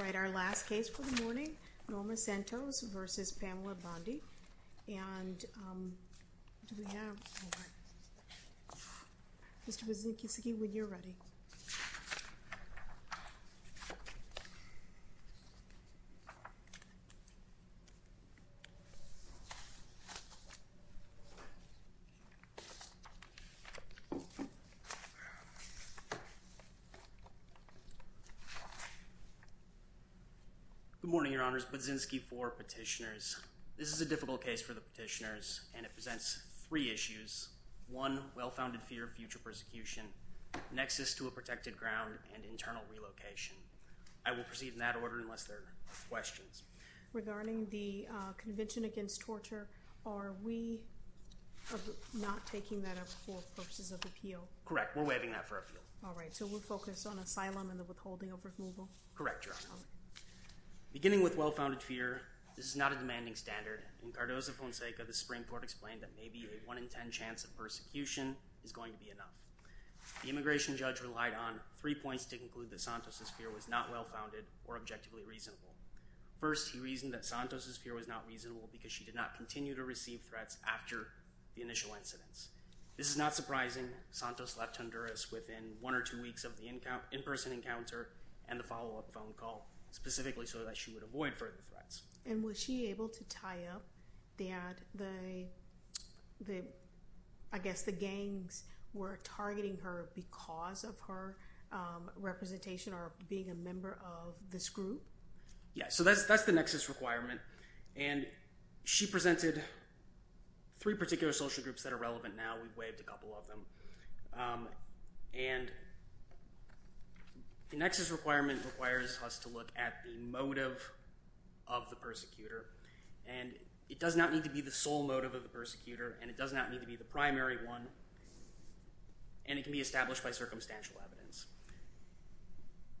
Alright, our last case for the morning, Norma Santos v. Pamela Bondi, and do we have, Mr. Budzinski, when you're ready. Good morning, Your Honors. Budzinski for Petitioners. This is a difficult case for the petitioners, and it presents three issues. One, well-founded fear of future persecution, nexus to a protected ground, and internal relocation. I will proceed in that order unless there are questions. Regarding the Convention Against Torture, are we not taking that up for purposes of Correct, we're waiving that for appeal. Alright, so we'll focus on asylum and the withholding of removal? Correct, Your Honor. Beginning with well-founded fear, this is not a demanding standard. In Cardozo Fonseca, the Supreme Court explained that maybe a 1 in 10 chance of persecution is going to be enough. The immigration judge relied on three points to conclude that Santos' fear was not well-founded or objectively reasonable. First, he reasoned that Santos' fear was not reasonable because she did not continue to receive threats after the initial incidents. This is not surprising. Santos left Honduras within one or two weeks of the in-person encounter and the follow-up phone call, specifically so that she would avoid further threats. And was she able to tie up that the, I guess the gangs were targeting her because of her representation or being a member of this group? Yeah, so that's the nexus requirement. And she presented three particular social groups that are relevant now. We've waived a couple of them. And the nexus requirement requires us to look at the motive of the persecutor. And it does not need to be the sole motive of the persecutor. And it does not need to be the primary one. And it can be established by circumstantial evidence.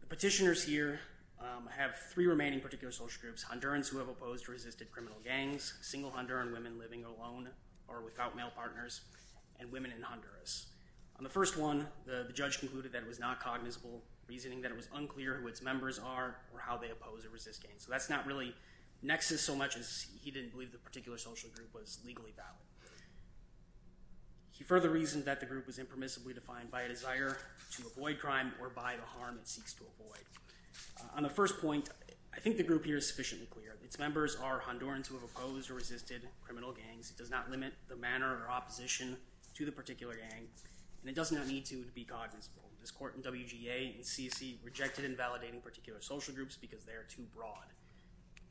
The petitioners here have three remaining particular social groups, Hondurans who have opposed or resisted criminal gangs, single Honduran women living alone or without male partners, and women in Honduras. On the first one, the judge concluded that it was not cognizable, reasoning that it was unclear who its members are or how they oppose or resist gangs. So that's not really nexus so much as he didn't believe the particular social group was legally valid. He further reasoned that the group was impermissibly defined by a desire to avoid crime or by the harm it seeks to avoid. On the first point, I think the group here is sufficiently clear. Its members are Hondurans who have opposed or resisted criminal gangs. It does not limit the manner or opposition to the particular gang. And it does not need to be cognizable. This court in WGA and CC rejected invalidating particular social groups because they are too broad.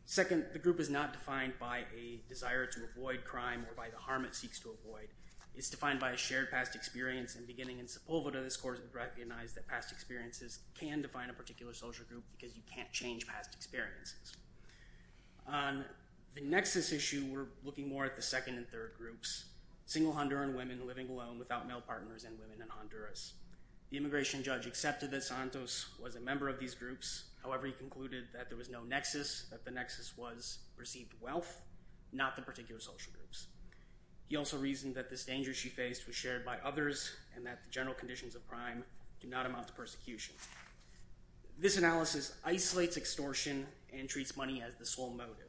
Second, the group is not defined by a desire to avoid crime or by the harm it seeks to avoid. It's defined by a shared past experience. And beginning in Sepulveda, this court recognized that past experiences can define a particular social group because you can't change past experiences. On the nexus issue, we're looking more at the second and third groups. Single Honduran women living alone without male partners and women in Honduras. The immigration judge accepted that Santos was a member of these groups. However, he concluded that there was no nexus, that the nexus was received wealth, not the particular social groups. He also reasoned that this danger she faced was shared by others and that the general conditions of crime do not amount to persecution. This analysis isolates extortion and treats money as the sole motive.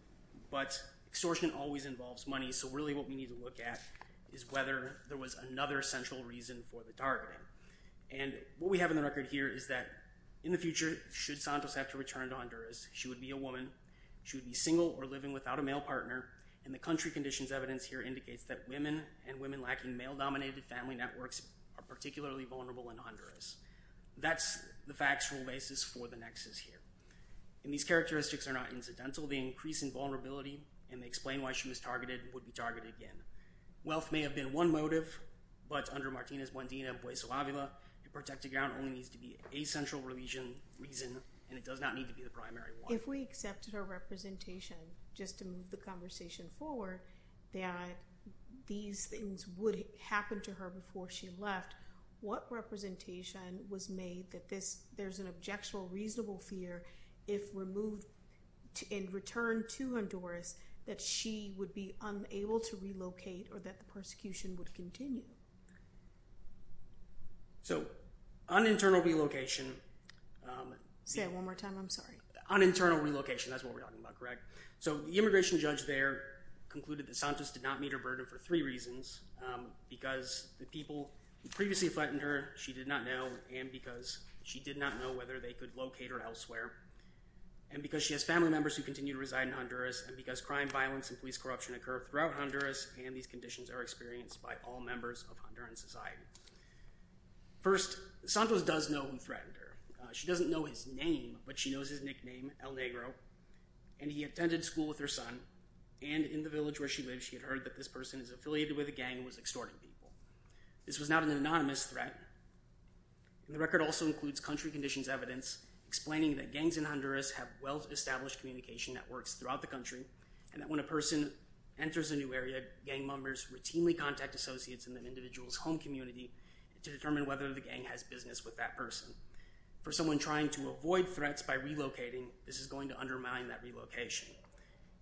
But extortion always involves money. So really what we need to look at is whether there was another central reason for the targeting. And what we have in the record here is that in the future, should Santos have to return to Honduras, she would be a woman. She would be single or living without a male partner. And the country conditions evidence here indicates that women and women lacking male-dominated family networks are particularly vulnerable in Honduras. That's the factual basis for the nexus here. And these characteristics are not incidental. The increase in vulnerability, and they explain why she was targeted and would be targeted again. Wealth may have been one motive, but under Martinez-Buendina and Puey Salavio, to protect the ground only needs to be a central reason, and it does not need to be the primary one. If we accepted her representation, just to move the conversation forward, that these things would happen to her before she left, what representation was made that there's an objectionable reasonable fear if removed and returned to Honduras, that she would be unable to relocate or that the persecution would continue? So, on internal relocation... Say it one more time, I'm sorry. On internal relocation, that's what we're talking about, correct? So the immigration judge there concluded that Santos did not meet her burden for three reasons. Because the people who previously threatened her, she did not know, and because she did not know whether they could locate her elsewhere, and because she has family members who continue to reside in Honduras, and because crime, violence, and police corruption occur throughout Honduras, and these conditions are experienced by all members of Honduran society. First, Santos does know who threatened her. She doesn't know his name, but she knows his nickname, El Negro, and he attended school with her son, and in the village where she This was not an anonymous threat. The record also includes country conditions evidence explaining that gangs in Honduras have well-established communication networks throughout the country, and that when a person enters a new area, gang members routinely contact associates in an individual's home community to determine whether the gang has business with that person. For someone trying to avoid threats by relocating, this is going to undermine that relocation.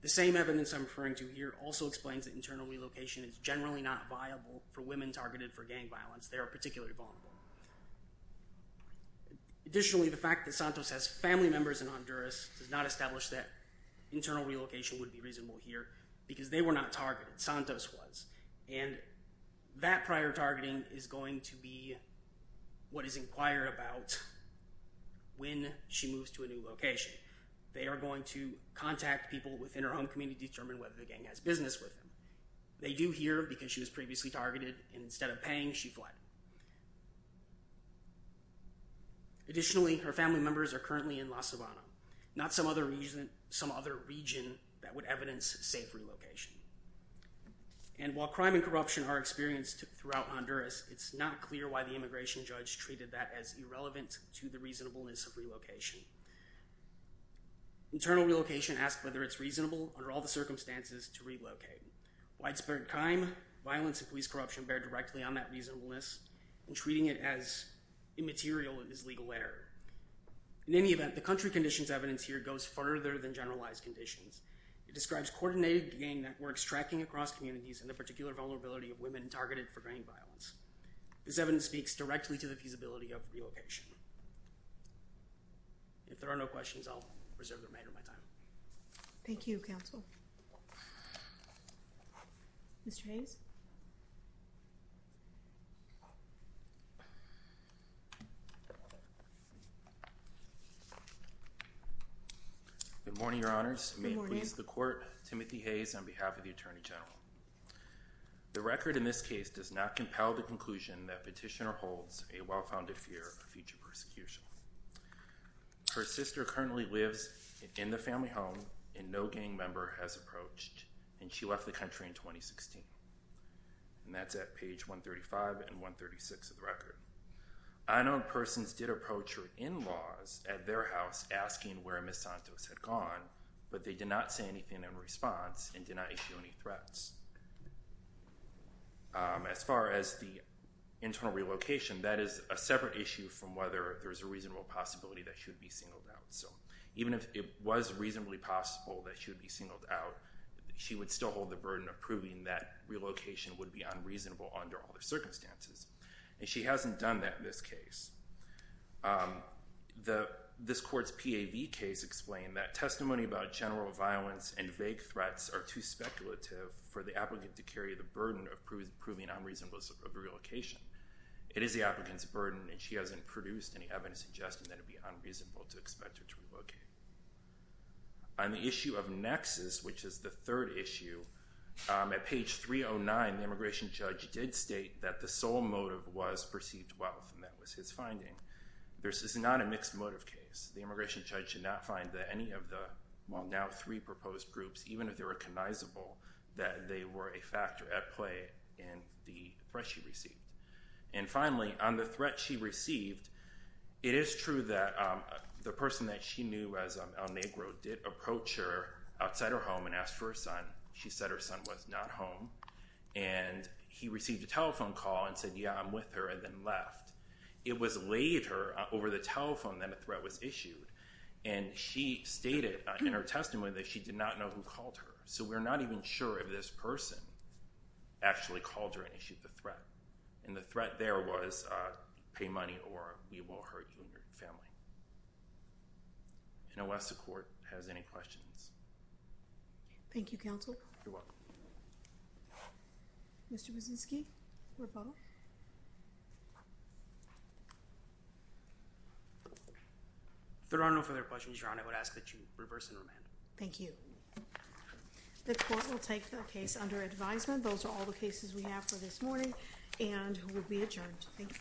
The same evidence I'm referring to here also explains that internal relocation is generally not viable for women targeted for gang violence. They are particularly vulnerable. Additionally, the fact that Santos has family members in Honduras does not establish that internal relocation would be reasonable here, because they were not targeted. Santos was, and that prior targeting is going to be what is inquired about when she moves to a new location. They are going to contact people within her home community to determine whether the gang has business with them. They do here, because she was previously targeted, and instead of paying, she fled. Additionally, her family members are currently in La Sabana, not some other region that would evidence safe relocation. And while crime and corruption are experienced throughout Honduras, it's not clear why the immigration judge treated that as irrelevant to the reasonableness of relocation. Internal relocation asks whether it's reasonable, under all the circumstances, to relocate. Widespread crime, violence, and police corruption bear directly on that reasonableness, and treating it as immaterial is legal error. In any event, the country conditions evidence here goes further than generalized conditions. It describes coordinated gang networks tracking across communities and the particular vulnerability of women targeted for gang violence. This evidence speaks directly to the feasibility of relocation. If there are no questions, I'll reserve the remainder of my time. Thank you, counsel. Mr. Hayes? Good morning, your honors. May it please the court, Timothy Hayes on behalf of the Attorney General. The record in this case does not compel the conclusion that petitioner holds a well-founded fear of future persecution. Her sister currently lives in the family home, and no gang member has approached, and she left the country in 2016. And that's at page 135 and 136 of the record. Unknown persons did approach her in-laws at their house asking where Ms. Santos had gone, but they did not say anything in response and did not issue any threats. As far as the internal relocation, that is a separate issue from whether there's a reasonable possibility that she would be singled out. So even if it was reasonably possible that she would be singled out, she would still hold the burden of proving that relocation would be unreasonable under all the circumstances. And she hasn't done that in this case. This court's PAV case explained that testimony about general violence and vague threats are too speculative for the applicant to carry the burden of proving unreasonable relocation. It is the applicant's burden, and she hasn't produced any evidence suggesting that it would be unreasonable to expect her to relocate. On the issue of nexus, which is the third issue, at page 309, the immigration judge did state that the sole motive was perceived wealth, and that was his finding. This is not a mixed motive case. The immigration judge did not find that any of the, well, now three proposed groups, even if they're recognizable, that they were a factor at play in the threat she received. And finally, on the threat she received, it is true that the person that she knew as El Negro did approach her outside her home and asked for her son. She said her son was not home. And he received a telephone call and said, yeah, I'm with her, and then left. It was later, over the telephone, that a threat was issued. And she stated in her testimony that she did not know who called her. So we're not even sure if this person actually called her and issued the threat. And the threat there was pay money or we will hurt you and your family. And I'll ask the court if it has any questions. Thank you, counsel. You're welcome. Mr. Brzezinski, or Bo? There are no further questions, Your Honor. I would ask that you reverse and remand. Thank you. The court will take the case under advisement. Those are all the cases we have for this morning and will be adjourned. Thank you. Thank you.